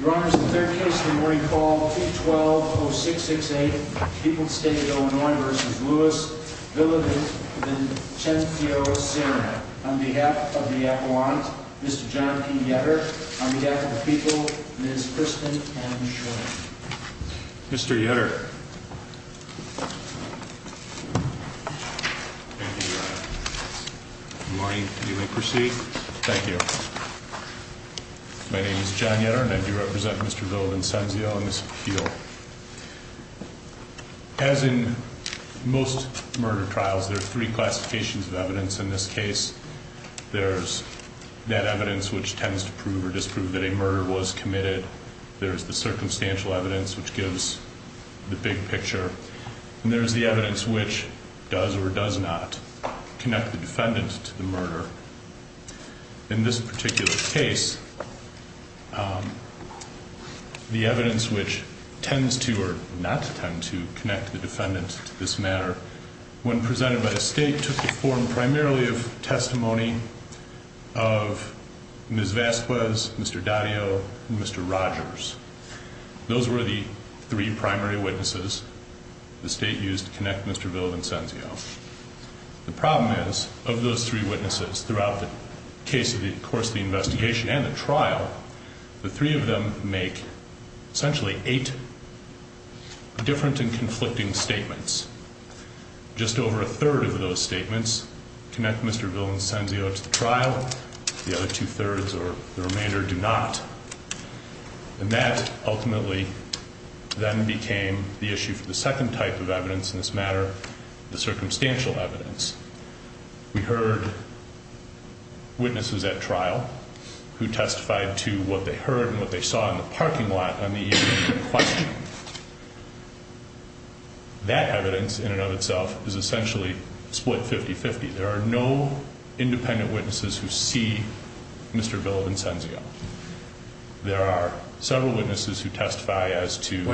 Your Honor, this is the third case of the morning call, 2-12-0668, People's State of Illinois v. Louis Villavicencio-Serna. On behalf of the appellant, Mr. John P. Yetter. On behalf of the people, Ms. Kristen M. Schwinn. Mr. Yetter. Good morning. You may proceed. Thank you. My name is John Yetter and I do represent Mr. Villavicencio in this appeal. As in most murder trials, there are three classifications of evidence in this case. There's that evidence which tends to prove or disprove that a murder was committed. There's the circumstantial evidence which gives the big picture. And there's the evidence which does or does not connect the defendant to the murder. In this particular case, the evidence which tends to or does not tend to connect the defendant to this matter, when presented by the state, took the form primarily of testimony of Ms. Vasquez, Mr. Daddio, and Mr. Rogers. Those were the three primary witnesses the state used to connect Mr. Villavicencio. The problem is, of those three witnesses throughout the course of the investigation and the trial, the three of them make essentially eight different and conflicting statements. Just over a third of those statements connect Mr. Villavicencio to the trial. The other two-thirds or the remainder do not. And that ultimately then became the issue for the second type of evidence in this matter, the circumstantial evidence. We heard witnesses at trial who testified to what they heard and what they saw in the parking lot on the evening of the questioning. That evidence, in and of itself, is essentially split 50-50. There are no independent witnesses who see Mr. Villavicencio. There are several witnesses who testify as to- In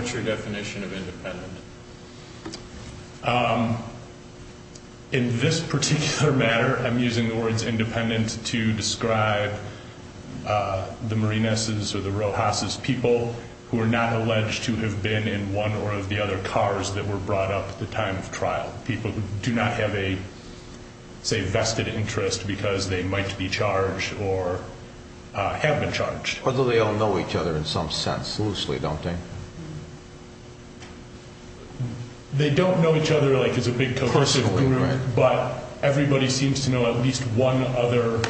this particular matter, I'm using the words independent to describe the Marinas' or the Rojas' people who are not alleged to have been in one or of the other cars that were brought up at the time of trial. People who do not have a, say, vested interest because they might be charged or have been charged. Although they all know each other in some sense, loosely, don't they? They don't know each other, like, as a big cohesive group. But everybody seems to know at least one other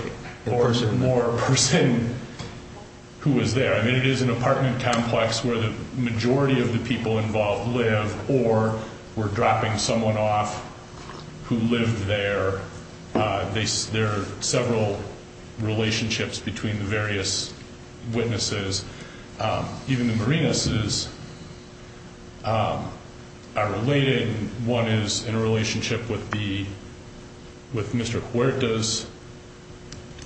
or more person who was there. I mean, it is an apartment complex where the majority of the people involved live or were dropping someone off who lived there. There are several relationships between the various witnesses. Even the Marinas' are related. One is in a relationship with Mr. Huerta's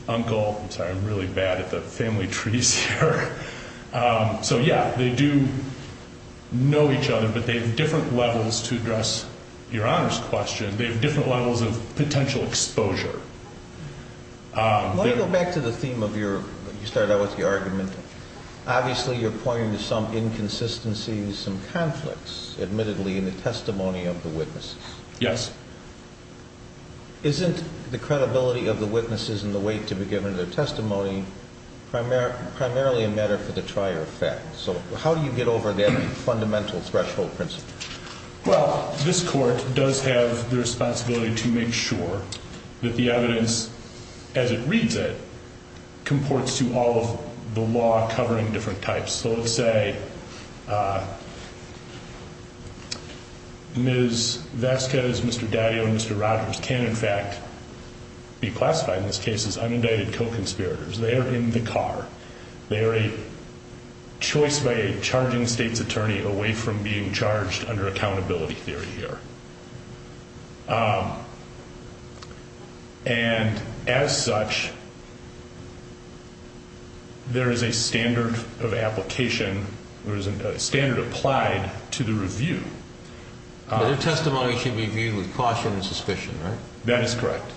uncle. I'm sorry, I'm really bad at the family trees here. So, yeah, they do know each other, but they have different levels to address Your Honor's question. They have different levels of potential exposure. Let me go back to the theme of your, you started out with the argument. Obviously, you're pointing to some inconsistencies, some conflicts, admittedly, in the testimony of the witnesses. Yes. Isn't the credibility of the witnesses and the weight to be given to their testimony primarily a matter for the trier of fact? So how do you get over that fundamental threshold principle? Well, this court does have the responsibility to make sure that the evidence, as it reads it, comports to all of the law covering different types. So let's say Ms. Vasquez, Mr. Daddio, and Mr. Rogers can, in fact, be classified in this case as unindicted co-conspirators. They are in the car. They are a choice by a charging state's attorney away from being charged under accountability theory here. And as such, there is a standard of application, there is a standard applied to the review. Their testimony should be viewed with caution and suspicion, right? That is correct.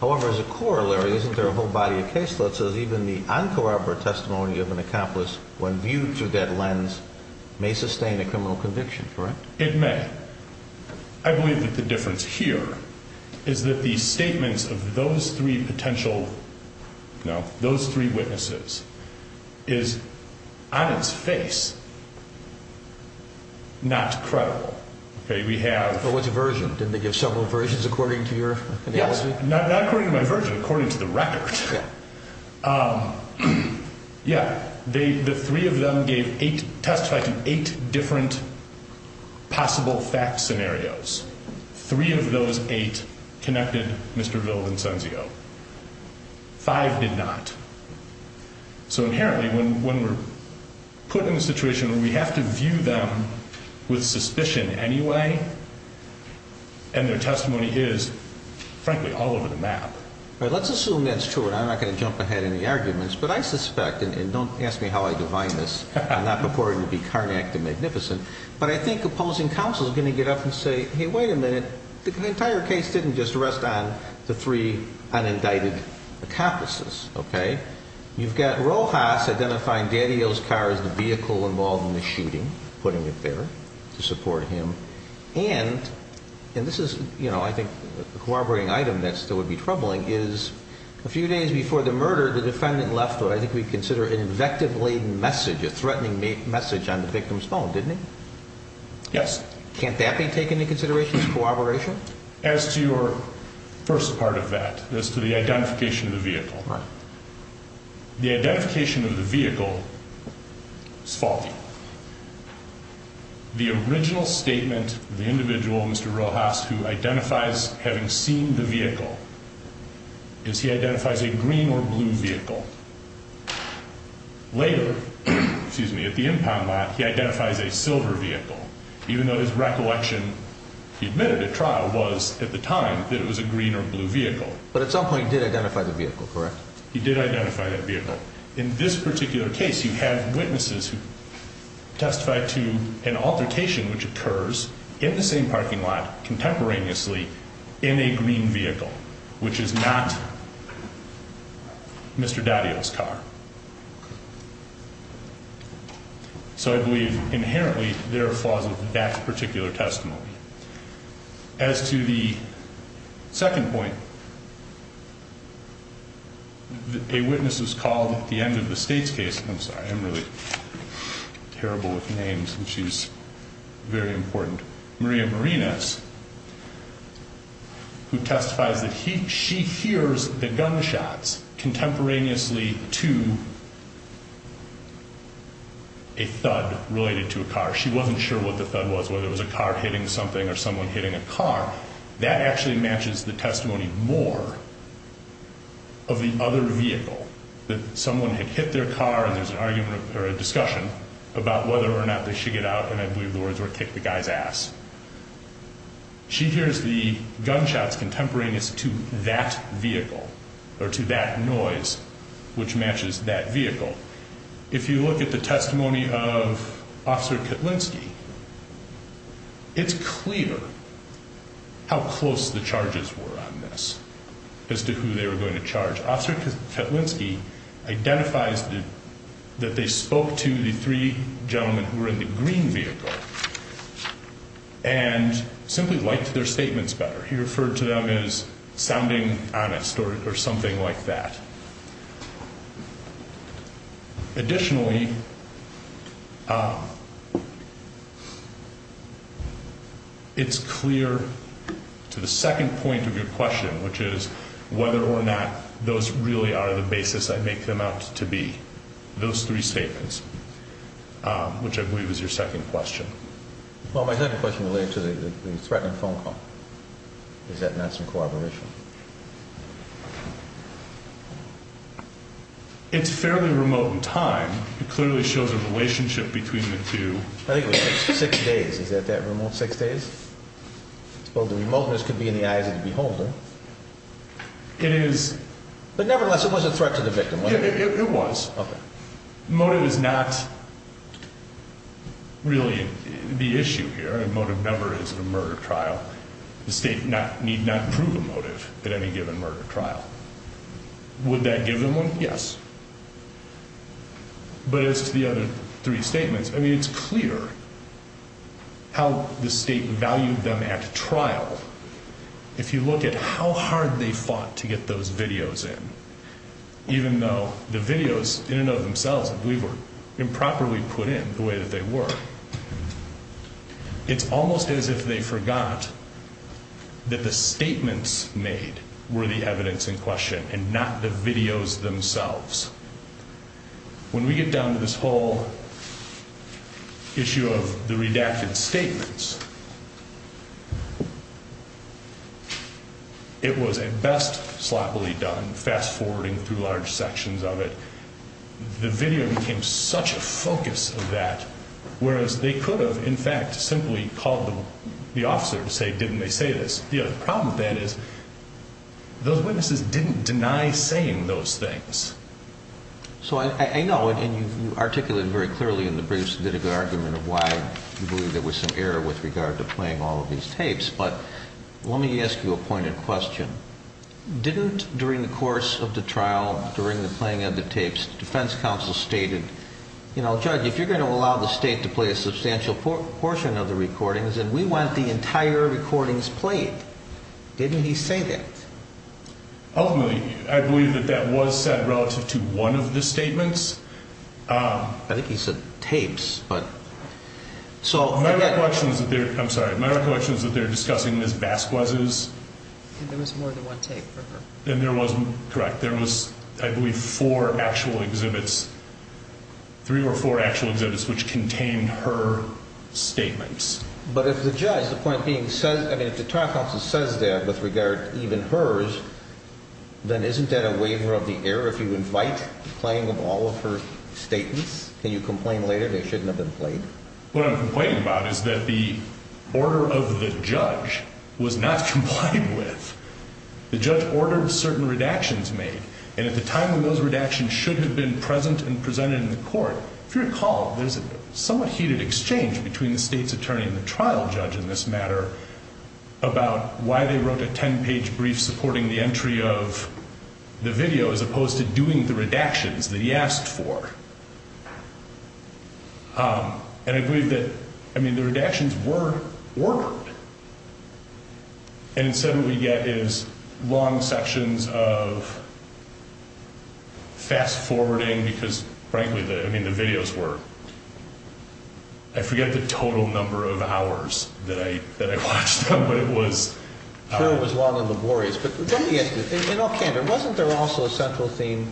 However, as a corollary, isn't there a whole body of case law that says even the uncooperative testimony of an accomplice, when viewed through that lens, may sustain a criminal conviction, correct? It may. I believe that the difference here is that the statements of those three potential witnesses is, on its face, not credible. But what's the version? Didn't they give several versions according to your analysis? Yes. Not according to my version. According to the record. Yeah. The three of them testified to eight different possible fact scenarios. Three of those eight connected Mr. Villavicencio. Five did not. So inherently, when we're put in a situation where we have to view them with suspicion anyway, and their testimony is, frankly, all over the map. All right. Let's assume that's true, and I'm not going to jump ahead in the arguments. But I suspect, and don't ask me how I divine this, I'm not purporting to be carnatic to magnificent, but I think opposing counsel is going to get up and say, hey, wait a minute, the entire case didn't just rest on the three unindicted accomplices, okay? You've got Rojas identifying Daniel's car as the vehicle involved in the shooting, putting it there to support him. And, and this is, you know, I think a corroborating item that still would be troubling is, a few days before the murder, the defendant left what I think we'd consider an invective-laden message, a threatening message on the victim's phone, didn't he? Yes. Can't that be taken into consideration as corroboration? As to your first part of that, as to the identification of the vehicle. Right. The identification of the vehicle is faulty. The original statement of the individual, Mr. Rojas, who identifies having seen the vehicle, is he identifies a green or blue vehicle. Later, excuse me, at the impound lot, he identifies a silver vehicle, even though his recollection, he admitted at trial, was at the time that it was a green or blue vehicle. But at some point he did identify the vehicle, correct? He did identify that vehicle. In this particular case, you have witnesses who testified to an altercation which occurs in the same parking lot, contemporaneously, in a green vehicle, which is not Mr. Daddio's car. So I believe inherently there are flaws of that particular testimony. As to the second point, a witness is called at the end of the state's case. I'm sorry, I'm really terrible with names, and she's very important. Maria Marinas, who testifies that she hears the gunshots contemporaneously to a thud related to a car. She wasn't sure what the thud was, whether it was a car hitting something or someone hitting a car. That actually matches the testimony more of the other vehicle, that someone had hit their car and there's an argument or a discussion about whether or not they should get out, and I believe the words were kick the guy's ass. She hears the gunshots contemporaneously to that vehicle or to that noise which matches that vehicle. If you look at the testimony of Officer Ketlinski, it's clear how close the charges were on this as to who they were going to charge. Officer Ketlinski identifies that they spoke to the three gentlemen who were in the green vehicle and simply liked their statements better. He referred to them as sounding honest or something like that. Additionally, it's clear to the second point of your question, which is whether or not those really are the basis I make them out to be, those three statements, which I believe is your second question. Well, my second question related to the threatening phone call. Is that not some corroboration? It's fairly remote in time. It clearly shows a relationship between the two. I think it was six days. Is that that remote? Six days? Well, the remoteness could be in the eyes of the beholder. It is. But nevertheless, it was a threat to the victim. It was. Okay. Motive is not really the issue here. A motive never is in a murder trial. The state need not prove a motive. That's the only motive that any given murder trial. Would that give them one? Yes. But it's the other three statements. I mean, it's clear. How the state valued them at trial. If you look at how hard they fought to get those videos in. Even though the videos in and of themselves, I believe, were improperly put in the way that they were. It's almost as if they forgot. That the statements made were the evidence in question and not the videos themselves. When we get down to this whole. Issue of the redacted statements. It was at best sloppily done fast forwarding through large sections of it. The video became such a focus of that. Whereas they could have, in fact, simply called the officer to say, didn't they say this? The problem with that is. Those witnesses didn't deny saying those things. So I know. And you articulated very clearly in the briefs. Did a good argument of why you believe there was some error with regard to playing all of these tapes. But let me ask you a pointed question. Didn't during the course of the trial, during the playing of the tapes, defense counsel stated. You know, judge, if you're going to allow the state to play a substantial portion of the recordings and we want the entire recordings played. Didn't he say that? Ultimately, I believe that that was said relative to one of the statements. I think he said tapes, but. So my recollection is that they're. I'm sorry. My recollection is that they're discussing Ms. Vasquez's. And there was more than one tape for her. And there was correct. There was, I believe, four actual exhibits. Three or four actual exhibits which contained her statements. But if the judge, the point being said, I mean, if the trial counsel says that with regard, even hers. Then isn't that a waiver of the air? If you invite playing of all of her statements, can you complain later? They shouldn't have been played. What I'm complaining about is that the order of the judge was not complied with. The judge ordered certain redactions made. And at the time when those redactions should have been present and presented in the court. If you recall, there's a somewhat heated exchange between the state's attorney and the trial judge in this matter. About why they wrote a 10 page brief supporting the entry of the video as opposed to doing the redactions that he asked for. And I believe that, I mean, the redactions were recorded. And instead what we get is long sections of fast forwarding because, frankly, I mean, the videos were. I forget the total number of hours that I watched them, but it was. It was long and laborious. But let me ask you, in all candor, wasn't there also a central theme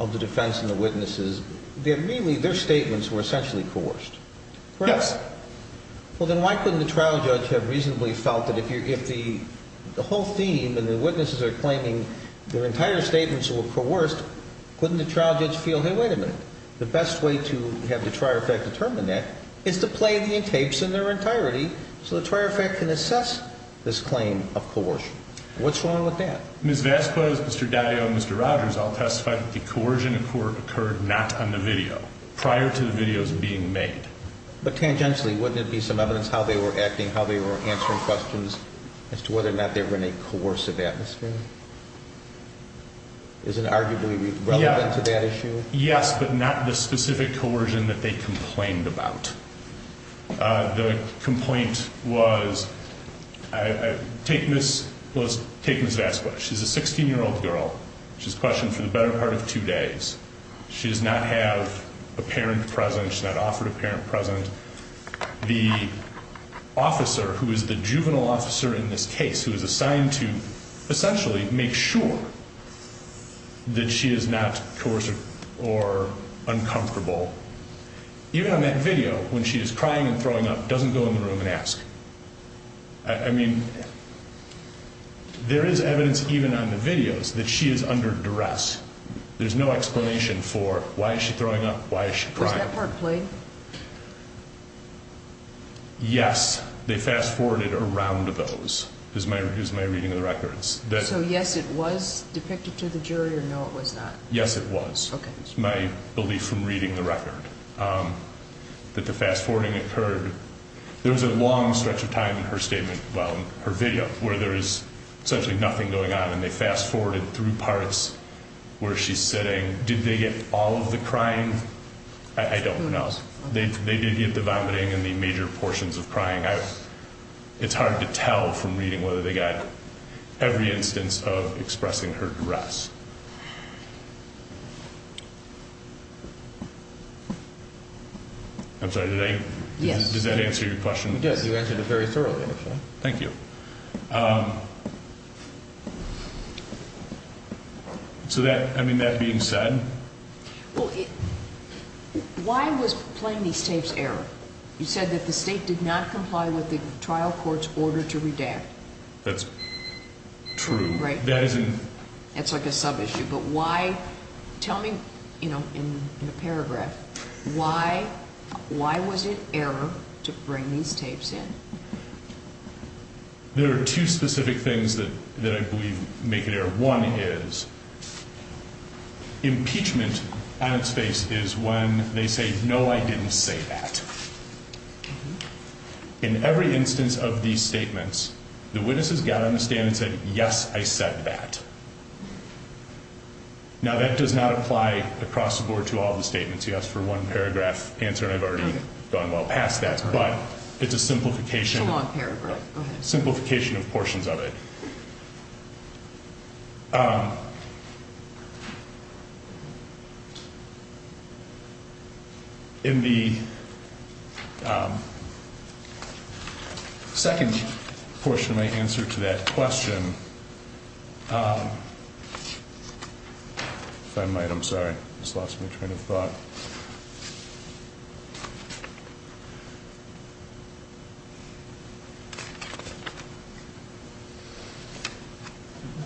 of the defense and the witnesses? They had really their statements were essentially coerced. Yes. Well, then why couldn't the trial judge have reasonably felt that if you're, if the whole theme and the witnesses are claiming their entire statements were coerced. Couldn't the trial judge feel? Hey, wait a minute. The best way to have the trial judge determine that is to play the tapes in their entirety. So the trial judge can assess this claim of coercion. What's wrong with that? Ms. Vasquez, Mr. Daddio, Mr. Rogers all testified that the coercion in court occurred not on the video. Prior to the videos being made. But tangentially, wouldn't it be some evidence how they were acting, how they were answering questions as to whether or not they were in a coercive atmosphere? Is it arguably relevant to that issue? Yes, but not the specific coercion that they complained about. The complaint was, take Ms. Vasquez. She's a 16-year-old girl. She was questioned for the better part of two days. She does not have a parent present. She's not offered a parent present. The officer who is the juvenile officer in this case, who is assigned to essentially make sure that she is not coercive or uncomfortable. Even on that video, when she is crying and throwing up, doesn't go in the room and ask. I mean, there is evidence even on the videos that she is under duress. There's no explanation for why is she throwing up? Why is she crying? Was that part played? Yes. They fast-forwarded around those. It was my reading of the records. So, yes, it was depicted to the jury, or no, it was not? Yes, it was. Okay. It was my belief from reading the record that the fast-forwarding occurred. There was a long stretch of time in her statement, well, her video, where there is essentially nothing going on. And they fast-forwarded through parts where she's sitting. Did they get all of the crying? I don't know. They did get the vomiting and the major portions of crying. It's hard to tell from reading whether they got every instance of expressing her duress. I'm sorry, did I? Yes. Does that answer your question? Yes, you answered it very thoroughly, actually. Thank you. So that, I mean, that being said... Well, why was playing these tapes error? You said that the State did not comply with the trial court's order to redact. That's true. Right. That isn't... That's like a sub-issue. But why, tell me, you know, in the paragraph, why was it error to bring these tapes in? There are two specific things that I believe make it error. One is impeachment on its face is when they say, no, I didn't say that. In every instance of these statements, the witnesses got on the stand and said, yes, I said that. Now, that does not apply across the board to all the statements. You asked for one paragraph answer, and I've already gone well past that, but it's a simplification... It's a long paragraph. Simplification of portions of it. In the second portion of my answer to that question... If I might, I'm sorry, I just lost my train of thought.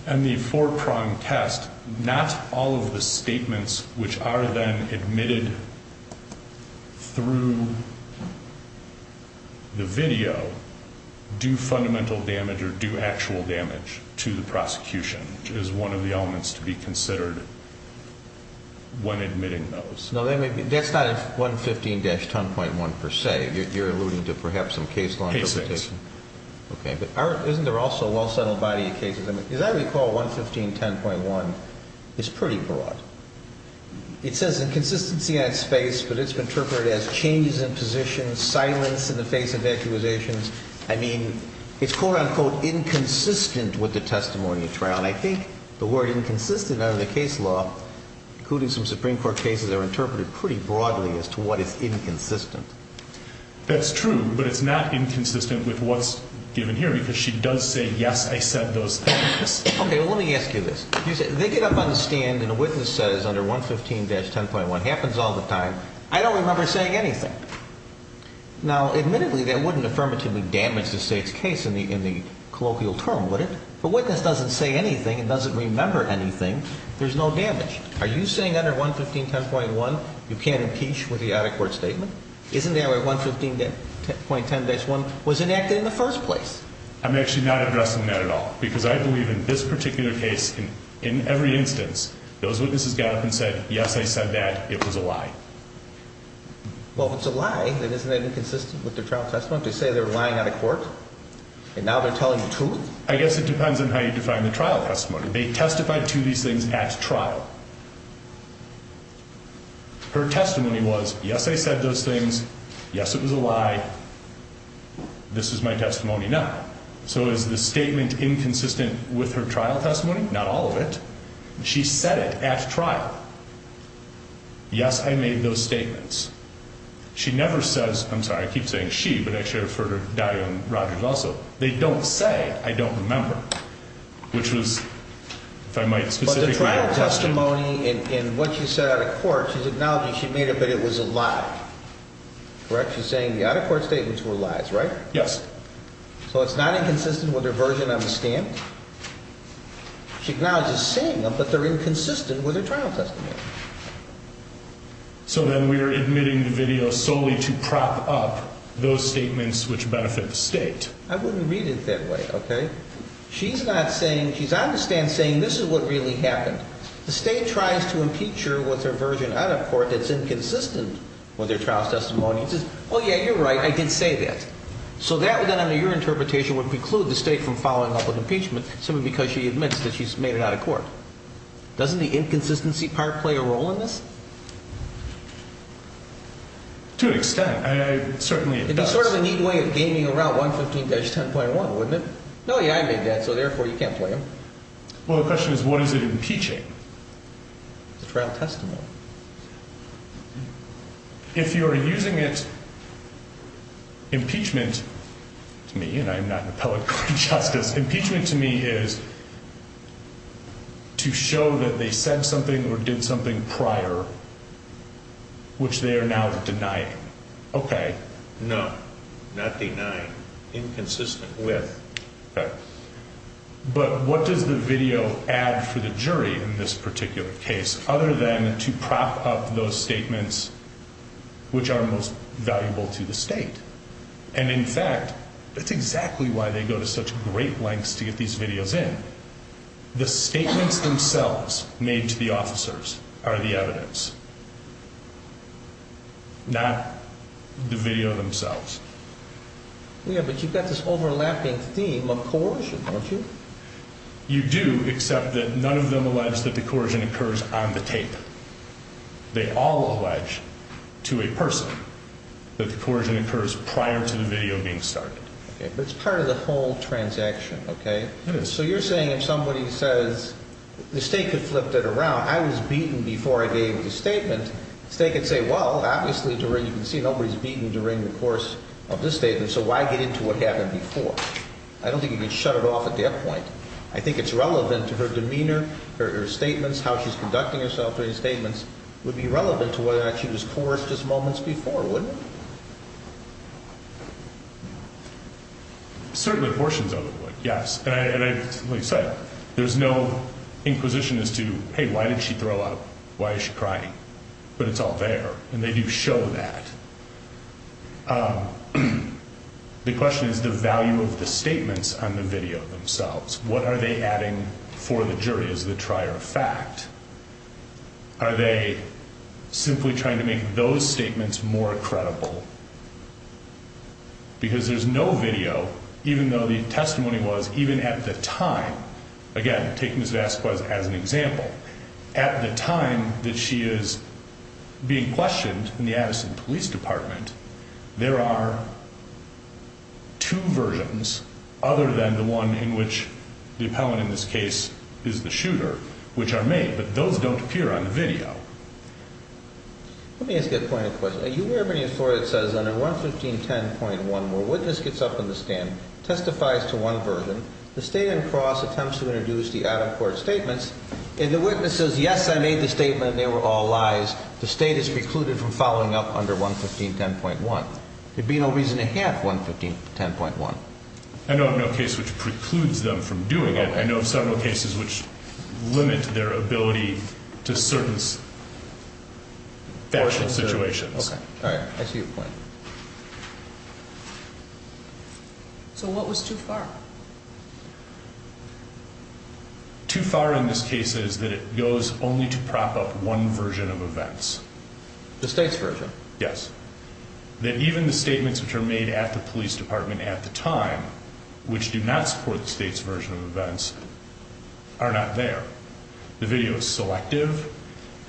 In the four-prong test, not all of the statements which are then admitted through the video do fundamental damage or do actual damage to the prosecution. It is one of the elements to be considered when admitting those. No, that's not 115-10.1 per se. You're alluding to perhaps some case law interpretation. Cases. Okay, but isn't there also a well-settled body of cases? As I recall, 115-10.1 is pretty broad. It says inconsistency on space, but it's been interpreted as changes in positions, silence in the face of actuations. I mean, it's quote-unquote inconsistent with the testimony of trial. And I think the word inconsistent under the case law, including some Supreme Court cases, are interpreted pretty broadly as to what is inconsistent. That's true, but it's not inconsistent with what's given here because she does say, yes, I said those things. Okay, well, let me ask you this. They get up on the stand and a witness says under 115-10.1, happens all the time, I don't remember saying anything. Now, admittedly, that wouldn't affirmatively damage the State's case in the colloquial term, would it? The witness doesn't say anything and doesn't remember anything. There's no damage. Are you saying under 115-10.1, you can't impeach with the out-of-court statement? Isn't that where 115.10-1 was enacted in the first place? I'm actually not addressing that at all because I believe in this particular case, in every instance, those witnesses got up and said, yes, I said that. It was a lie. Well, if it's a lie, then isn't that inconsistent with the trial testimony? To say they're lying out of court and now they're telling the truth? I guess it depends on how you define the trial testimony. They testified to these things at trial. Her testimony was, yes, I said those things. Yes, it was a lie. This is my testimony now. So is the statement inconsistent with her trial testimony? Not all of it. She said it at trial. Yes, I made those statements. She never says, I'm sorry, I keep saying she, but I should have referred to Dario and Rodgers also. They don't say, I don't remember, which was, if I might specifically question. But the trial testimony and what she said out of court, she's acknowledging she made it, but it was a lie. She's saying the out-of-court statements were lies, right? Yes. So it's not inconsistent with her version on the stand? She acknowledges saying them, but they're inconsistent with her trial testimony. So then we are admitting the video solely to prop up those statements which benefit the state? I wouldn't read it that way, okay? She's not saying, she's on the stand saying this is what really happened. The state tries to impeach her with her version out of court that's inconsistent with her trial testimony. She says, oh yeah, you're right, I did say that. So that then under your interpretation would preclude the state from following up with impeachment simply because she admits that she's made it out of court. Doesn't the inconsistency part play a role in this? To an extent. Certainly it does. It'd be sort of a neat way of gaming around 115-10.1, wouldn't it? No, yeah, I made that, so therefore you can't play them. Well, the question is what is it impeaching? The trial testimony. If you're using it, impeachment to me, and I'm not an appellate court of justice, impeachment to me is to show that they said something or did something prior which they are now denying. Okay. No, not denying. Inconsistent with. Okay. But what does the video add for the jury in this particular case other than to prop up those statements which are most valuable to the state? And in fact, that's exactly why they go to such great lengths to get these videos in. The statements themselves made to the officers are the evidence. Not the video themselves. Yeah, but you've got this overlapping theme of coercion, don't you? You do, except that none of them allege that the coercion occurs on the tape. They all allege to a person that the coercion occurs prior to the video being started. Okay, but it's part of the whole transaction, okay? It is. But you're saying if somebody says, the state could flip that around, I was beaten before I gave the statement, the state could say, well, obviously, you can see nobody's beaten during the course of this statement, so why get into what happened before? I don't think you can shut it off at that point. I think it's relevant to her demeanor, her statements, how she's conducting herself during statements would be relevant to whether or not she was coerced just moments before, wouldn't it? Certainly portions of it would, yes. And like I said, there's no inquisition as to, hey, why did she throw up? Why is she crying? But it's all there, and they do show that. The question is the value of the statements on the video themselves. What are they adding for the jury as the trier of fact? Are they simply trying to make those statements more credible? Because there's no video, even though the testimony was even at the time, again, taking Ms. Vasquez as an example, at the time that she is being questioned in the Addison Police Department, there are two versions other than the one in which the appellant in this case is the shooter, which are made. But those don't appear on the video. Let me ask you a point of question. Are you aware of any authority that says under 115.10.1, where a witness gets up on the stand, testifies to one version, the state and cross attempts to introduce the out-of-court statements, and the witness says, yes, I made the statement, and they were all lies, the state is precluded from following up under 115.10.1? There'd be no reason to have 115.10.1. I know of no case which precludes them from doing it. I know of several cases which limit their ability to certain factual situations. Okay, all right. I see your point. So what was too far? Too far in this case is that it goes only to prop up one version of events. The state's version? Yes. That even the statements which are made at the police department at the time, which do not support the state's version of events, are not there. The video is selective,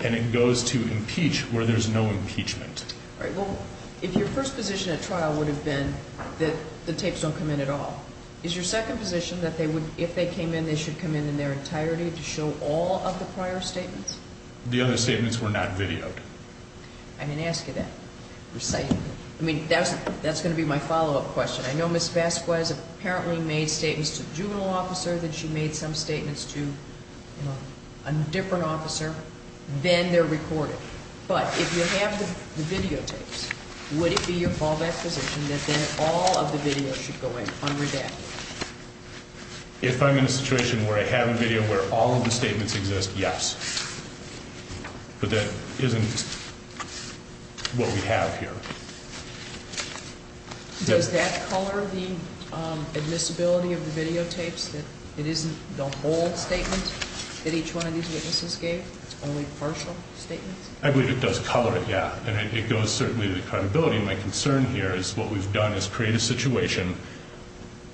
and it goes to impeach where there's no impeachment. All right, well, if your first position at trial would have been that the tapes don't come in at all, is your second position that if they came in, they should come in in their entirety to show all of the prior statements? The other statements were not videoed. I didn't ask you that. I mean, that's going to be my follow-up question. I know Ms. Vasquez apparently made statements to the juvenile officer, then she made some statements to a different officer, then they're recorded. But if you have the videotapes, would it be your fallback position that then all of the videos should go in under that? If I'm in a situation where I have a video where all of the statements exist, yes. But that isn't what we have here. Does that color the admissibility of the videotapes, that it isn't the whole statement that each one of these witnesses gave? It's only partial statements? I believe it does color it, yeah. And it goes, certainly, to the credibility. My concern here is what we've done is create a situation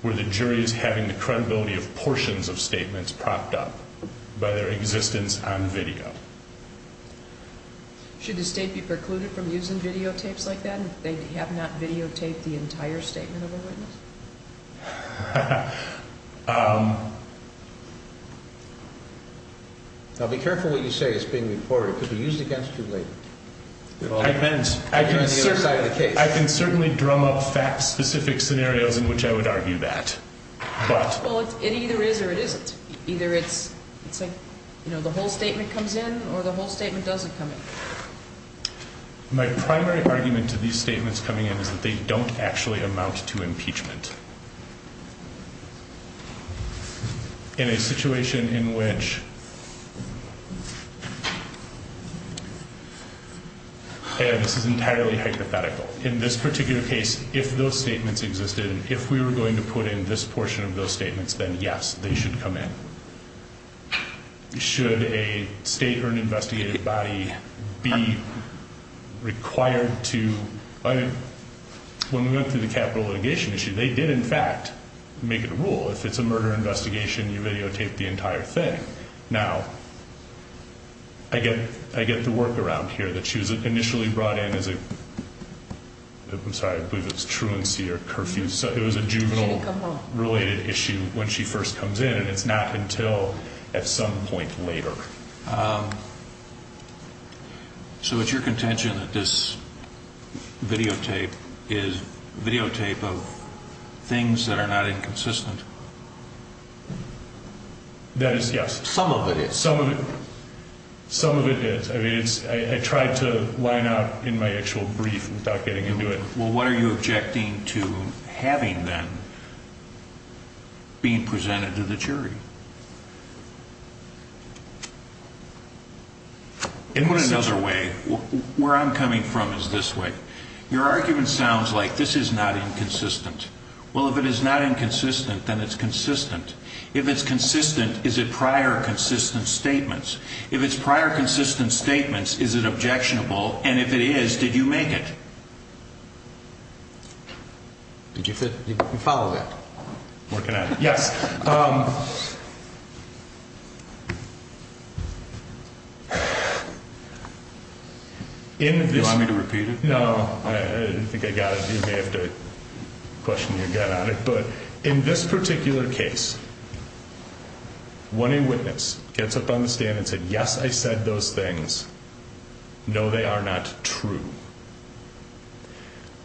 where the jury is having the credibility of portions of statements propped up by their existence on video. Should the state be precluded from using videotapes like that if they have not videotaped the entire statement of a witness? Now, be careful what you say is being reported, because we use it against you later. I can certainly drum up fact-specific scenarios in which I would argue that. Well, it either is or it isn't. Either it's the whole statement comes in, or the whole statement doesn't come in. My primary argument to these statements coming in is that they don't actually amount to impeachment. In a situation in which, and this is entirely hypothetical, in this particular case, if those statements existed, if we were going to put in this portion of those statements, then, yes, they should come in. Should a state or an investigative body be required to, when we went through the capital litigation issue, they did not have to come in. They could, in fact, make it a rule. If it's a murder investigation, you videotape the entire thing. Now, I get the workaround here that she was initially brought in as a, I'm sorry, I believe it's truancy or curfew. It was a juvenile-related issue when she first comes in, and it's not until at some point later. So it's your contention that this videotape is videotape of things that are not inconsistent? That is, yes. Some of it is. Some of it is. I mean, I tried to line up in my actual brief without getting into it. Well, what are you objecting to having, then, being presented to the jury? In another way, where I'm coming from is this way. Your argument sounds like this is not inconsistent. Well, if it is not inconsistent, then it's consistent. If it's consistent, is it prior consistent statements? If it's prior consistent statements, is it objectionable? And if it is, did you make it? Did you follow that? Working on it, yes. Do you want me to repeat it? No, I think I got it. You may have to question your gut on it. But in this particular case, when a witness gets up on the stand and said, yes, I said those things, no, they are not true.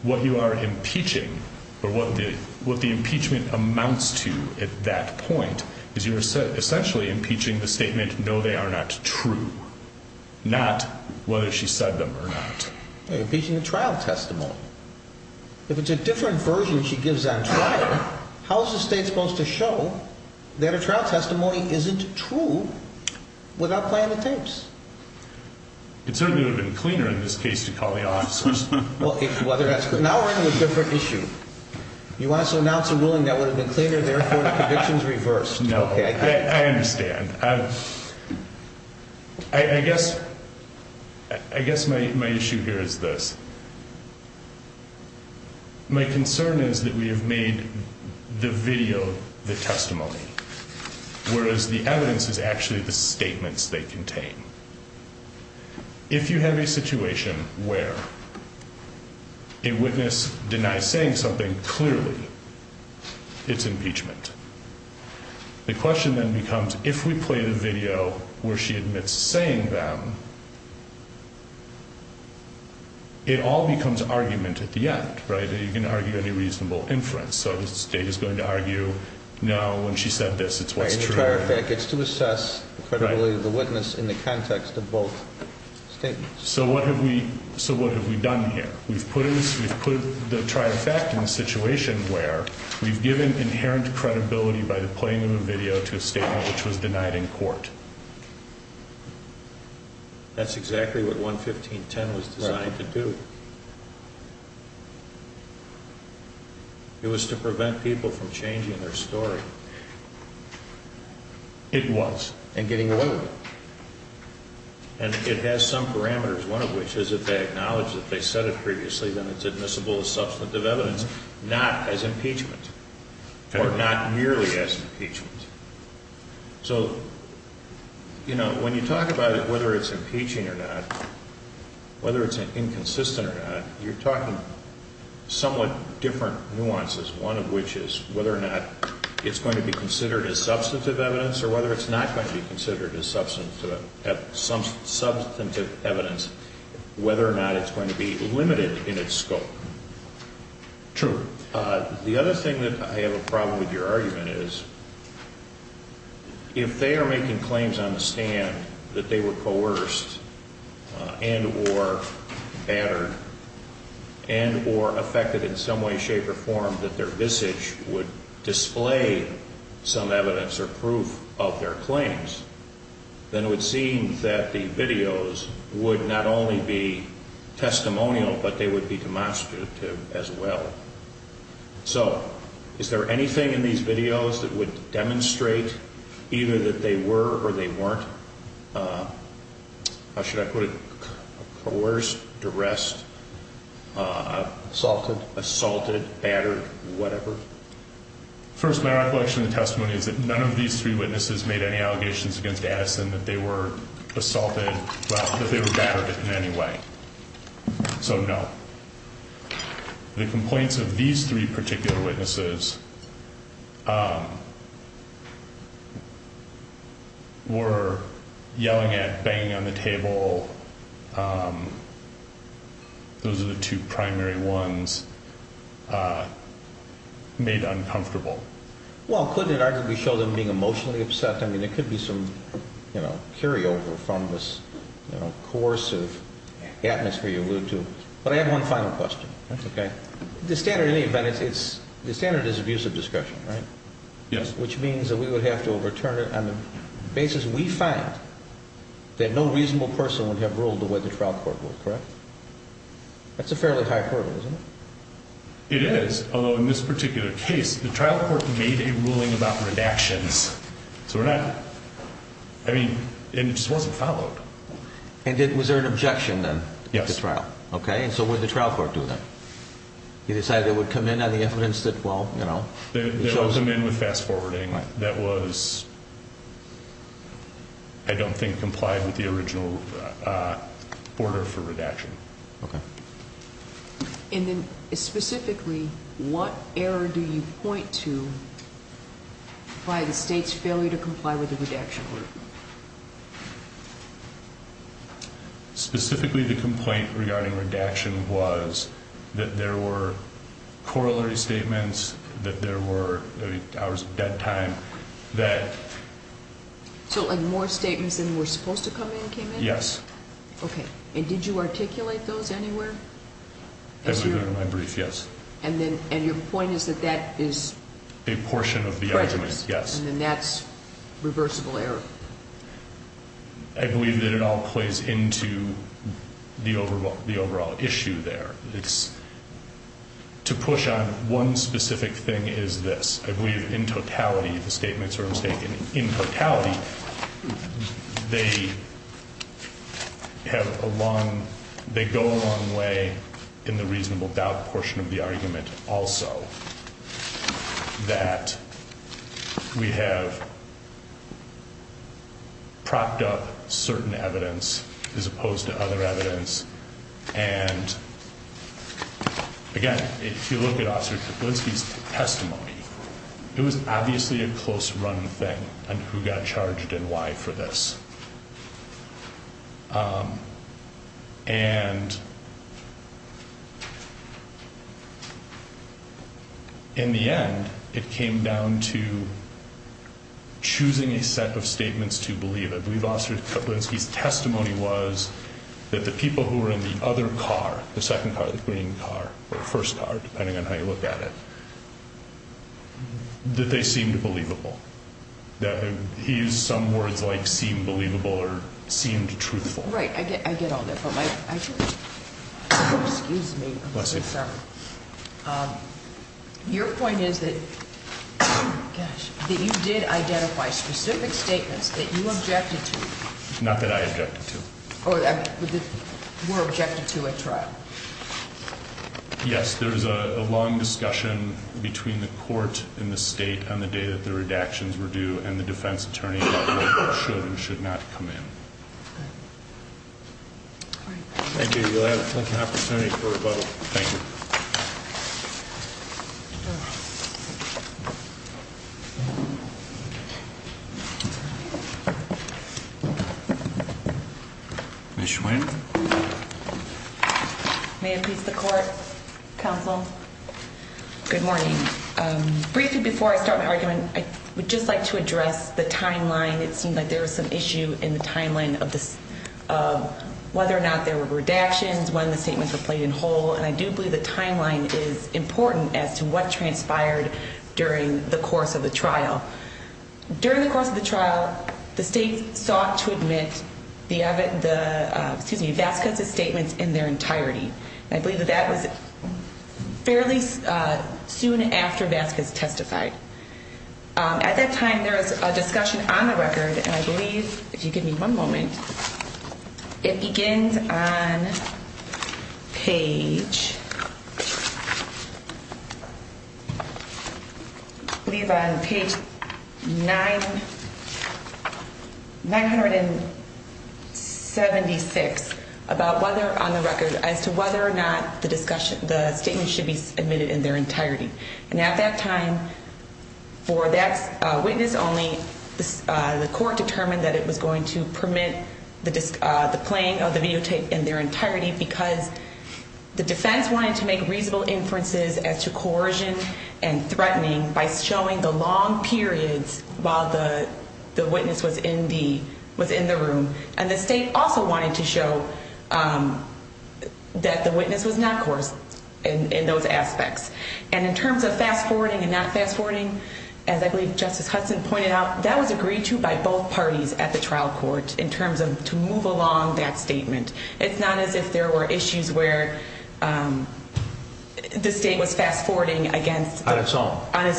What you are impeaching, or what the impeachment amounts to at that point, is you're essentially impeaching the statement, no, they are not true. Not whether she said them or not. You're impeaching the trial testimony. If it's a different version she gives on trial, how is the state supposed to show that her trial testimony isn't true without playing the tapes? It certainly would have been cleaner in this case to call the officers. Now we're on a different issue. You want us to announce a ruling that would have been cleaner, therefore the conviction is reversed. No, I understand. I guess my issue here is this. My concern is that we have made the video the testimony. Whereas the evidence is actually the statements they contain. If you have a situation where a witness denies saying something, clearly it's impeachment. The question then becomes, if we play the video where she admits saying them, it all becomes argument at the end. You can argue any reasonable inference. So the state is going to argue, no, when she said this, it's what's true. It's to assess the credibility of the witness in the context of both statements. So what have we done here? We've put the tri-effect in a situation where we've given inherent credibility by the playing of a video to a statement which was denied in court. That's exactly what 11510 was designed to do. It was to prevent people from changing their story. It was. And getting away with it. And it has some parameters, one of which is that they acknowledge that they said it previously, then it's admissible as substantive evidence, not as impeachment. Or not merely as impeachment. So, you know, when you talk about it, whether it's impeaching or not, whether it's inconsistent or not, you're talking somewhat different nuances. One of which is whether or not it's going to be considered as substantive evidence or whether it's not going to be considered as substantive evidence, whether or not it's going to be limited in its scope. True. The other thing that I have a problem with your argument is, if they are making claims on the stand that they were coerced and or battered and or affected in some way, shape or form that their visage would display some evidence or proof of their claims, then it would seem that the videos would not only be testimonial, but they would be demonstrative as well. So is there anything in these videos that would demonstrate either that they were or they weren't? How should I put it? Coerced, duress, assaulted, assaulted, battered, whatever. First, my recollection of the testimony is that none of these three witnesses made any allegations against Addison that they were assaulted, that they were battered in any way. So, no. The complaints of these three particular witnesses were yelling at, banging on the table. Those are the two primary ones made uncomfortable. Well, couldn't it arguably show them being emotionally upset? I mean, there could be some carryover from this coercive atmosphere you allude to. But I have one final question. Okay. The standard, in any event, the standard is abusive discussion, right? Yes. Which means that we would have to overturn it on the basis we find that no reasonable person would have ruled the way the trial court would, correct? That's a fairly high hurdle, isn't it? It is, although in this particular case, the trial court made a ruling about redactions. So we're not, I mean, it just wasn't followed. And was there an objection then at the trial? Yes. Okay. And so what did the trial court do then? They decided they would come in on the evidence that, well, you know. They let them in with fast forwarding. That was, I don't think, complied with the original order for redaction. Okay. And then specifically, what error do you point to by the state's failure to comply with the redaction order? Specifically, the complaint regarding redaction was that there were corollary statements, that there were hours of dead time, that. So, like, more statements than were supposed to come in came in? Yes. Okay. And did you articulate those anywhere? As you. As we went into my brief, yes. And then, and your point is that that is. A portion of the argument. Prejudice. Yes. And that's reversible error. I believe that it all plays into the overall issue there. It's to push on one specific thing is this. I believe in totality the statements are mistaken. In totality, they have a long, they go a long way in the reasonable doubt portion of the argument also. That. We have. Propped up certain evidence as opposed to other evidence. And. Again, if you look at officer's testimony. It was obviously a close run thing. And who got charged and why for this. And. In the end, it came down to. Choosing a set of statements to believe. I believe officer's testimony was. That the people who were in the other car, the second car, the green car or first car, depending on how you look at it. That they seemed believable. That he used some words like seem believable or seemed truthful. Right. I get all that. Excuse me. Your point is that. You did identify specific statements that you objected to. Not that I objected to. Objected to a trial. Yes, there is a long discussion between the court in the state on the day that the redactions were due and the defense attorney. Should not come in. Thank you. Thank you. Thank you. Thank you. May it please the court. Counsel. Good morning. Briefly before I start my argument, I would just like to address the timeline. It seemed like there was some issue in the timeline of whether or not there were redactions, when the statements were played in whole. And I do believe the timeline is important as to what transpired during the course of the trial. During the course of the trial, the state sought to admit Vasquez's statements in their entirety. And I believe that that was fairly soon after Vasquez testified. At that time, there was a discussion on the record, and I believe, if you give me one moment, it begins on page. I believe on page 976 about whether on the record as to whether or not the discussion, the statement should be admitted in their entirety. And at that time, for that witness only, the court determined that it was going to permit the playing of the videotape in their entirety. Because the defense wanted to make reasonable inferences as to coercion and threatening by showing the long periods while the witness was in the room. And the state also wanted to show that the witness was not coercive in those aspects. And in terms of fast-forwarding and not fast-forwarding, as I believe Justice Hudson pointed out, that was agreed to by both parties at the trial court in terms of to move along that statement. It's not as if there were issues where the state was fast-forwarding on its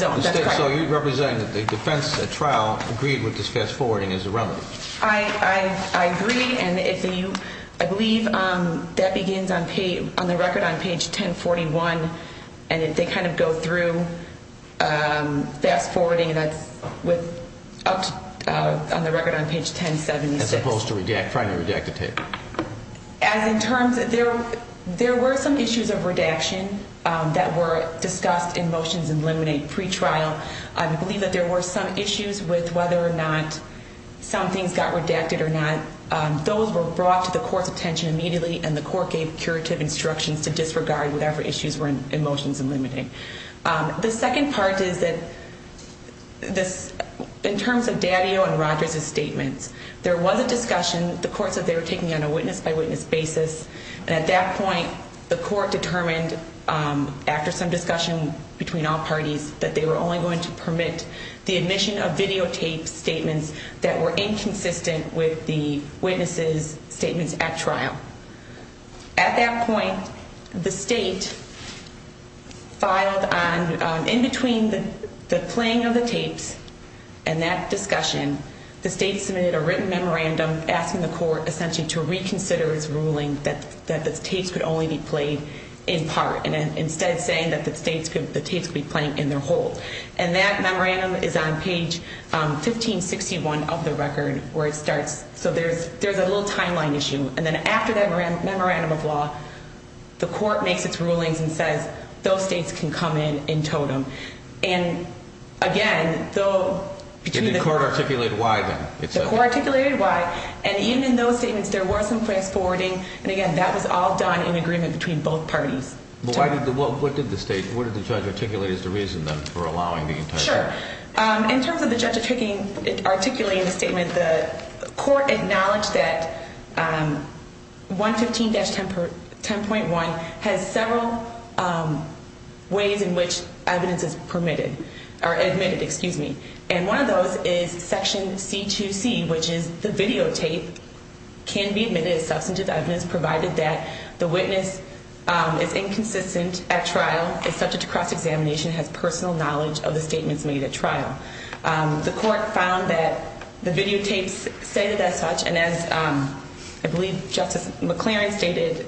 own. So you're representing that the defense at trial agreed with this fast-forwarding as a remedy? I agree, and I believe that begins on the record on page 1041, and they kind of go through fast-forwarding that's on the record on page 1076. As opposed to trying to redact the tape. As in terms of there were some issues of redaction that were discussed in motions and limited pre-trial. I believe that there were some issues with whether or not some things got redacted or not. Those were brought to the court's attention immediately, and the court gave curative instructions to disregard whatever issues were in motions and limited. The second part is that in terms of Daddio and Rogers' statements, there was a discussion. The courts said they were taking it on a witness-by-witness basis. And at that point, the court determined after some discussion between all parties that they were only going to permit the admission of videotaped statements that were inconsistent with the witnesses' statements at trial. At that point, the state filed on, in between the playing of the tapes and that discussion, the state submitted a written memorandum asking the court essentially to reconsider its ruling that the tapes could only be played in part, and instead saying that the tapes could be played in their whole. And that memorandum is on page 1561 of the record where it starts. So there's a little timeline issue. And then after that memorandum of law, the court makes its rulings and says, those states can come in in totem. And again, though, between the- Did the court articulate why, then? The court articulated why. And even in those statements, there was some place forwarding. And again, that was all done in agreement between both parties. Well, what did the state, what did the judge articulate as the reason, then, for allowing the entire thing? Sure. In terms of the judge articulating the statement, the court acknowledged that 115-10.1 has several ways in which evidence is permitted, or admitted, excuse me. And one of those is section C2C, which is the videotape can be admitted as substantive evidence provided that the witness is inconsistent at trial, is subject to cross-examination, has personal knowledge of the statements made at trial. The court found that the videotapes stated as such. And as I believe Justice McLaren stated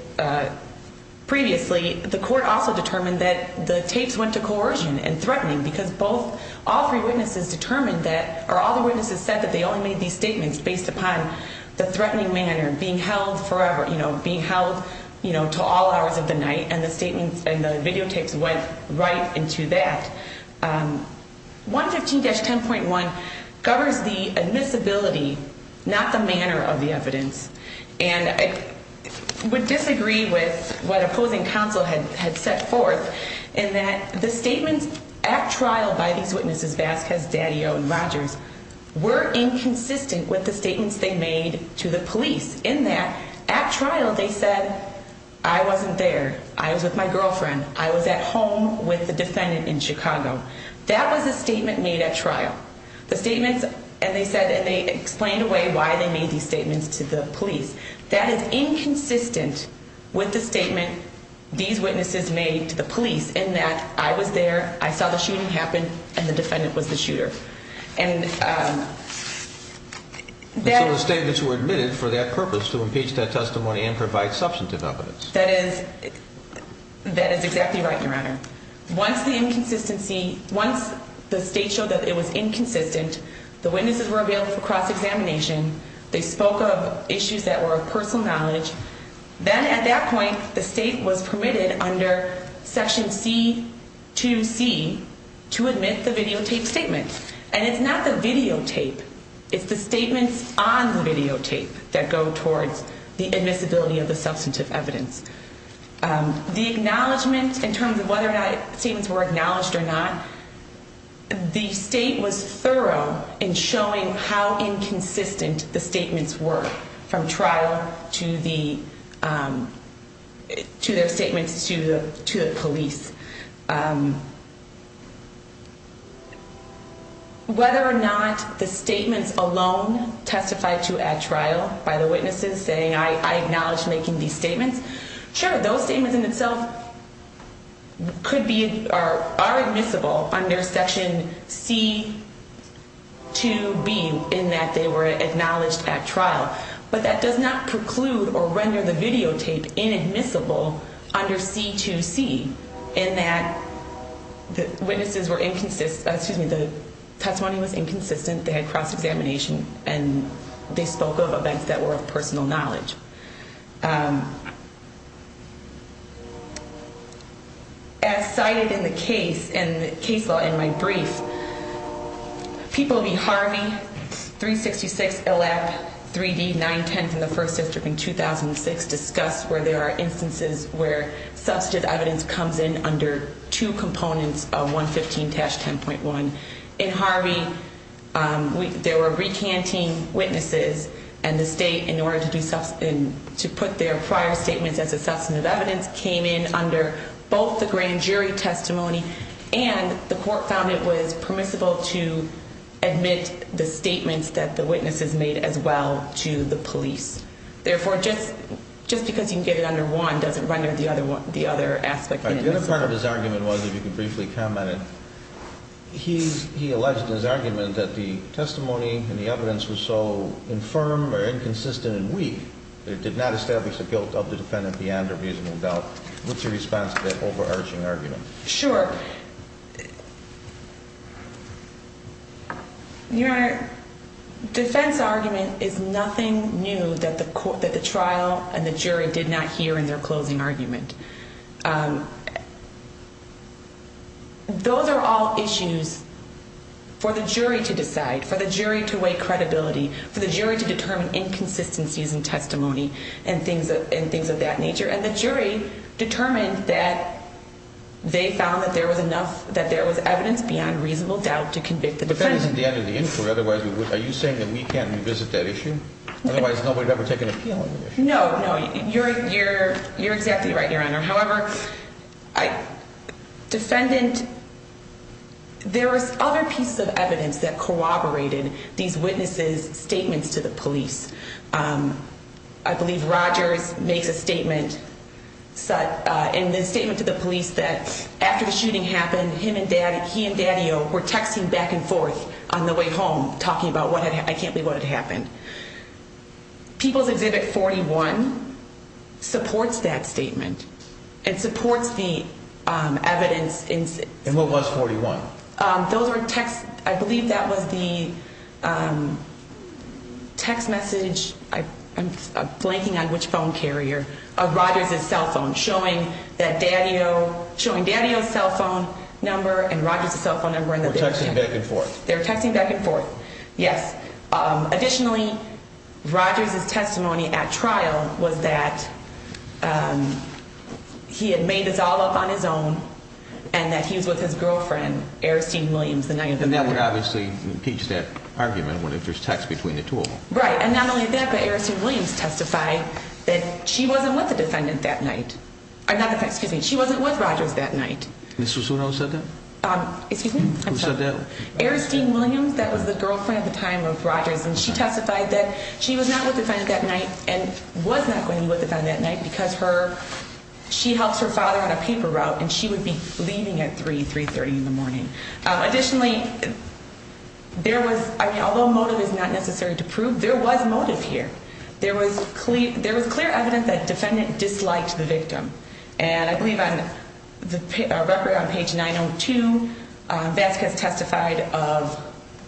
previously, the court also determined that the tapes went to coercion and threatening, because all three witnesses determined that, or all the witnesses said that they only made these statements based upon the threatening manner, being held forever, being held to all hours of the night. And the videotapes went right into that. 115-10.1 covers the admissibility, not the manner of the evidence. And I would disagree with what opposing counsel had set forth, in that the statements at trial by these witnesses, Vasquez, Daddio, and Rogers, were inconsistent with the statements they made to the police. In that, at trial, they said, I wasn't there. I was with my girlfriend. I was at home with the defendant in Chicago. That was a statement made at trial. The statements, and they said, and they explained away why they made these statements to the police. That is inconsistent with the statement these witnesses made to the police, in that I was there, I saw the shooting happen, and the defendant was the shooter. So the statements were admitted for that purpose, to impeach that testimony and provide substantive evidence. That is exactly right, Your Honor. Once the state showed that it was inconsistent, the witnesses were available for cross-examination. They spoke of issues that were of personal knowledge. Then, at that point, the state was permitted, under Section C2C, to admit the videotaped statements. And it's not the videotape. It's the statements on the videotape that go towards the admissibility of the substantive evidence. The acknowledgment, in terms of whether the statements were acknowledged or not, the state was thorough in showing how inconsistent the statements were, from trial to their statements to the police. Whether or not the statements alone testified to at trial, by the witnesses saying, I acknowledge making these statements, sure, those statements in themselves are admissible under Section C2B in that they were acknowledged at trial. But that does not preclude or render the videotape inadmissible under C2C in that the testimony was inconsistent, they had cross-examination, and they spoke of events that were of personal knowledge. As cited in the case, in the case law in my brief, People v. Harvey, 366LF3D910 from the first district in 2006, discussed where there are instances where substantive evidence comes in under two components of 115-10.1. In Harvey, there were recanting witnesses, and the state, in order to put their prior statements as a substantive evidence, came in under both the grand jury testimony and the court found it was permissible to admit the statements that the witnesses made as well to the police. Therefore, just because you can get it under one doesn't render the other aspect inadmissible. The other part of his argument was, if you could briefly comment on it, he alleged in his argument that the testimony and the evidence was so infirm or inconsistent and weak that it did not establish the guilt of the defendant beyond a reasonable doubt. What's your response to that overarching argument? Sure. Your Honor, defense argument is nothing new that the trial and the jury did not hear in their closing argument. Those are all issues for the jury to decide, for the jury to weigh credibility, for the jury to determine inconsistencies in testimony and things of that nature. And the jury determined that they found that there was enough, that there was evidence beyond reasonable doubt to convict the defendant. But that isn't the end of the inquiry. Otherwise, are you saying that we can't revisit that issue? Otherwise, nobody would ever take an appeal on the issue. No, no. You're exactly right, Your Honor. However, defendant, there was other pieces of evidence that corroborated these witnesses' statements to the police. I believe Rogers makes a statement in the statement to the police that after the shooting happened, he and Daddio were texting back and forth on the way home talking about, I can't believe what had happened. People's Exhibit 41 supports that statement and supports the evidence. And what was 41? I believe that was the text message, I'm blanking on which phone carrier, of Rogers' cell phone, showing Daddio's cell phone number and Rogers' cell phone number. They were texting back and forth. They were texting back and forth, yes. Additionally, Rogers' testimony at trial was that he had made this all up on his own and that he was with his girlfriend, Aristine Williams, the night of the murder. And that would obviously impeach that argument if there's text between the two of them. Right. And not only that, but Aristine Williams testified that she wasn't with the defendant that night. Not the defendant, excuse me, she wasn't with Rogers that night. Ms. Susuno said that? Excuse me? Who said that? Aristine Williams, that was the girlfriend at the time of Rogers, and she testified that she was not with the defendant that night and was not going to be with the defendant that night because she helps her father on a paper route and she would be leaving at 3, 3.30 in the morning. Additionally, there was, I mean, although motive is not necessary to prove, there was motive here. There was clear evidence that the defendant disliked the victim. And I believe on the record on page 902, Vasquez testified of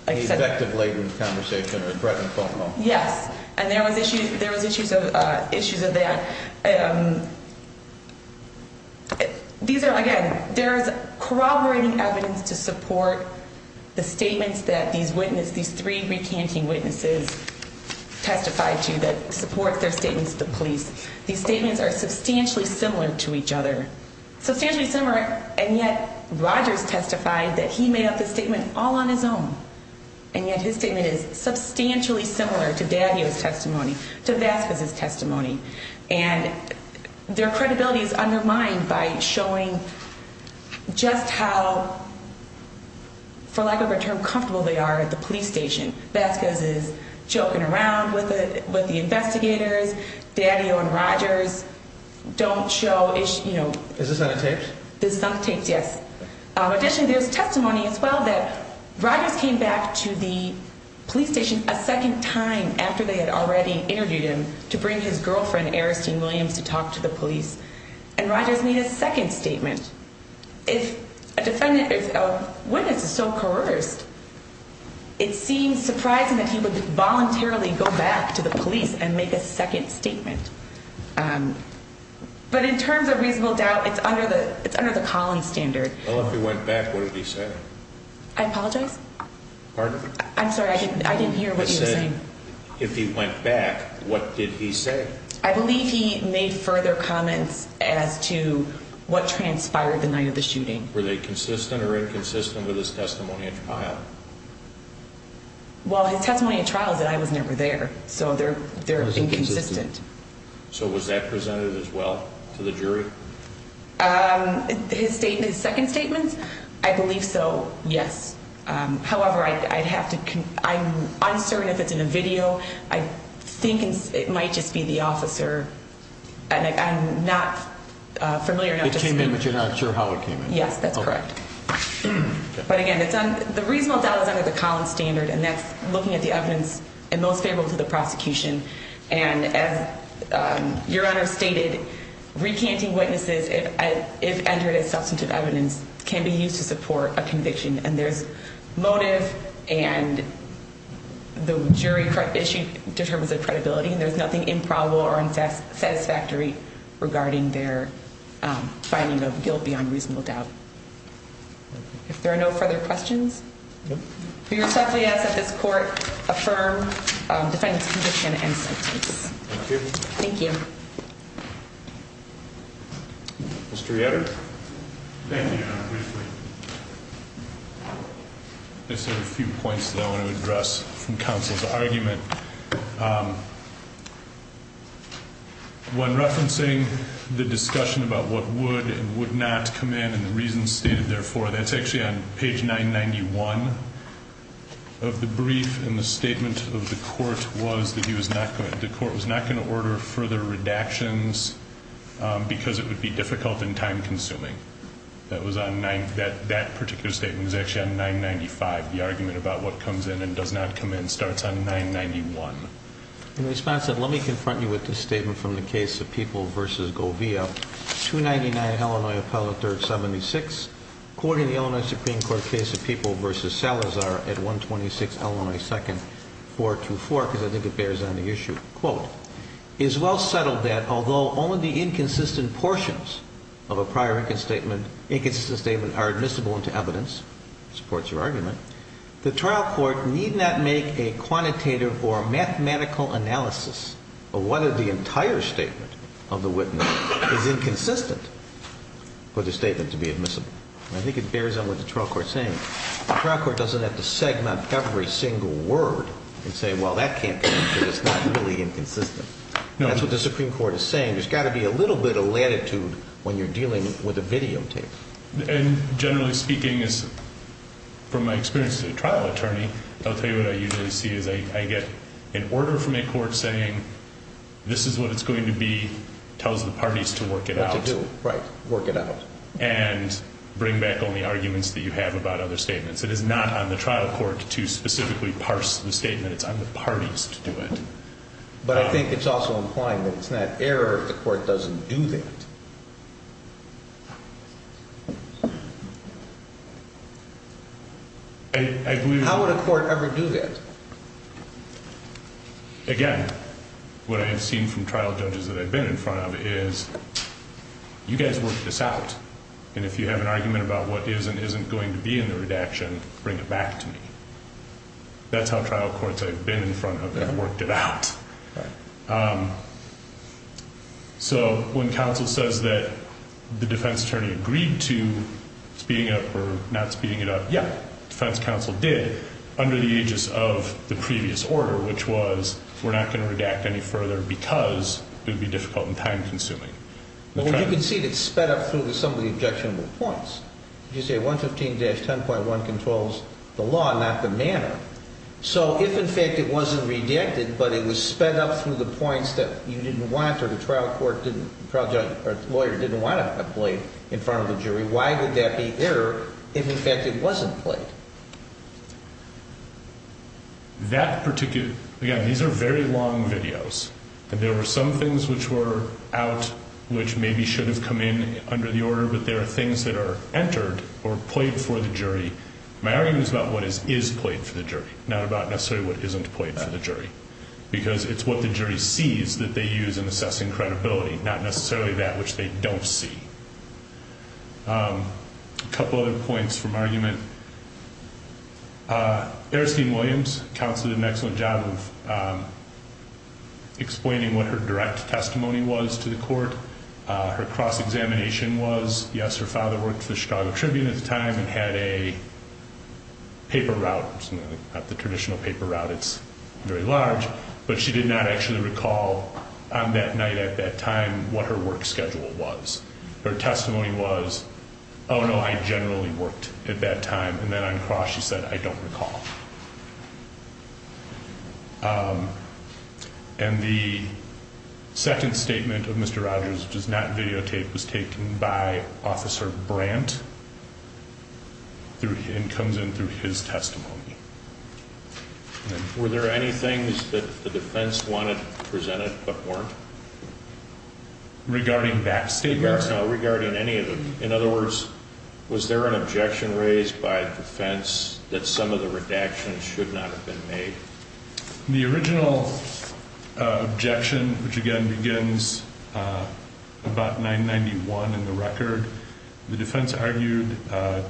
A defective labor conversation or a threatened phone call. Yes. And there was issues, there was issues of, issues of that. These are, again, there's corroborating evidence to support the statements that these witnesses, these three recanting witnesses testified to that support their statements to the police. These statements are substantially similar to each other. Substantially similar, and yet Rogers testified that he made up the statement all on his own. And yet his statement is substantially similar to Daddio's testimony, to Vasquez's testimony. And their credibility is undermined by showing just how, for lack of a better term, comfortable they are at the police station. Vasquez is joking around with the investigators. Daddio and Rogers don't show, you know. Is this on the tapes? This is on the tapes, yes. Additionally, there's testimony as well that Rogers came back to the police station a second time after they had already interviewed him to bring his girlfriend, Aristine Williams, to talk to the police. And Rogers made a second statement. If a defendant, if a witness is so coerced, it seems surprising that he would voluntarily go back to the police and make a second statement. But in terms of reasonable doubt, it's under the Collins standard. Well, if he went back, what did he say? I apologize? Pardon? I'm sorry, I didn't hear what you were saying. If he went back, what did he say? I believe he made further comments as to what transpired the night of the shooting. Were they consistent or inconsistent with his testimony at trial? Well, his testimony at trial is that I was never there, so they're inconsistent. So was that presented as well to the jury? His statement, his second statement, I believe so, yes. However, I'd have to, I'm uncertain if it's in a video. I think it might just be the officer, and I'm not familiar enough to speak. It came in, but you're not sure how it came in? Yes, that's correct. Okay. But again, it's on, the reasonable doubt is under the Collins standard, and that's looking at the evidence and most favorable to the prosecution. And as Your Honor stated, recanting witnesses, if entered as substantive evidence, can be used to support a conviction. And there's motive, and the jury issue determines the credibility. And there's nothing improbable or unsatisfactory regarding their finding of guilt beyond reasonable doubt. If there are no further questions? No. We respectfully ask that this court affirm defendant's conviction and sentence. Thank you. Thank you. Mr. Yetter? Thank you, Your Honor, briefly. I just have a few points that I want to address from counsel's argument. When referencing the discussion about what would and would not come in and the reasons stated therefore, that's actually on page 991 of the brief, and the statement of the court was that he was not going to, the court was not going to order further redactions because it would be difficult and time-consuming. That was on, that particular statement was actually on 995. The argument about what comes in and does not come in starts on 991. In response, let me confront you with this statement from the case of People v. Govia. 299, Illinois appellate third 76. According to the Illinois Supreme Court case of People v. Salazar at 126, Illinois second 424, because I think it bears on the issue, quote, is well settled that although only the inconsistent portions of a prior inconsistent statement are admissible into evidence, supports your argument, the trial court need not make a quantitative or mathematical analysis of whether the entire statement of the witness is inconsistent for the statement to be admissible. I think it bears on what the trial court is saying. The trial court doesn't have to segment every single word and say, well, that can't be because it's not really inconsistent. That's what the Supreme Court is saying. There's got to be a little bit of latitude when you're dealing with a videotape. And generally speaking, from my experience as a trial attorney, I'll tell you what I usually see is I get an order from a court saying, this is what it's going to be, tells the parties to work it out. Right, work it out. And bring back only arguments that you have about other statements. It is not on the trial court to specifically parse the statement. It's on the parties to do it. But I think it's also implying that it's not error if the court doesn't do that. How would a court ever do that? Again, what I have seen from trial judges that I've been in front of is, you guys work this out. And if you have an argument about what is and isn't going to be in the redaction, bring it back to me. That's how trial courts I've been in front of have worked it out. So when counsel says that the defense attorney agreed to speeding it up or not speeding it up, yeah, defense counsel did. Under the aegis of the previous order, which was we're not going to redact any further because it would be difficult and time-consuming. Well, you can see it's sped up through some of the objectionable points. You say 115-10.1 controls the law, not the manner. So if, in fact, it wasn't redacted, but it was sped up through the points that you didn't want or the trial court didn't, trial judge or lawyer didn't want it played in front of the jury, why would that be error if, in fact, it wasn't played? Again, these are very long videos, and there were some things which were out which maybe should have come in under the order, but there are things that are entered or played for the jury. My argument is about what is played for the jury, not about necessarily what isn't played for the jury, because it's what the jury sees that they use in assessing credibility, not necessarily that which they don't see. A couple of other points from argument. Aristine Williams counseled an excellent job of explaining what her direct testimony was to the court. Her cross-examination was, yes, her father worked for the Chicago Tribune at the time and had a paper route. It's not the traditional paper route. It's very large. But she did not actually recall on that night at that time what her work schedule was. Her testimony was, oh, no, I generally worked at that time. And then on cross, she said, I don't recall. And the second statement of Mr. Rogers does not videotape was taken by Officer Brandt. It comes in through his testimony. Were there any things that the defense wanted presented but weren't? Regarding back statements? No, regarding any of them. In other words, was there an objection raised by the defense that some of the redactions should not have been made? The original objection, which, again, begins about 991 in the record, the defense argued that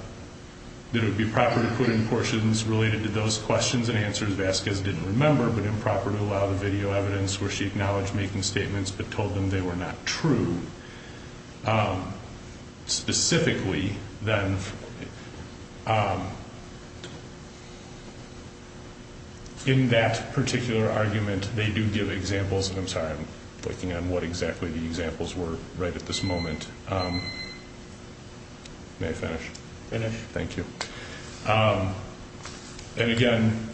it would be proper to put in portions related to those questions and answers Vasquez didn't remember but improper to allow the video evidence where she acknowledged making statements but told them they were not true. Specifically, then, in that particular argument, they do give examples. I'm sorry, I'm working on what exactly the examples were right at this moment. May I finish? Finish. Thank you. And, again,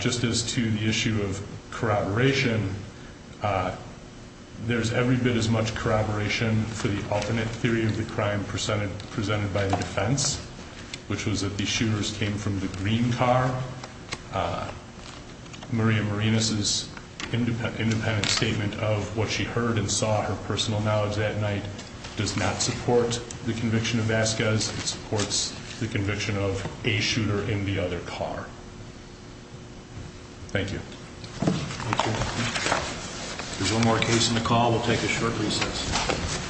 just as to the issue of corroboration, there's every bit as much corroboration for the alternate theory of the crime presented by the defense, which was that the shooters came from the green car. Maria Marinas' independent statement of what she heard and saw, her personal knowledge that night, does not support the conviction of Vasquez. It supports the conviction of a shooter in the other car. Thank you. Thank you. There's one more case in the call. We'll take a short recess.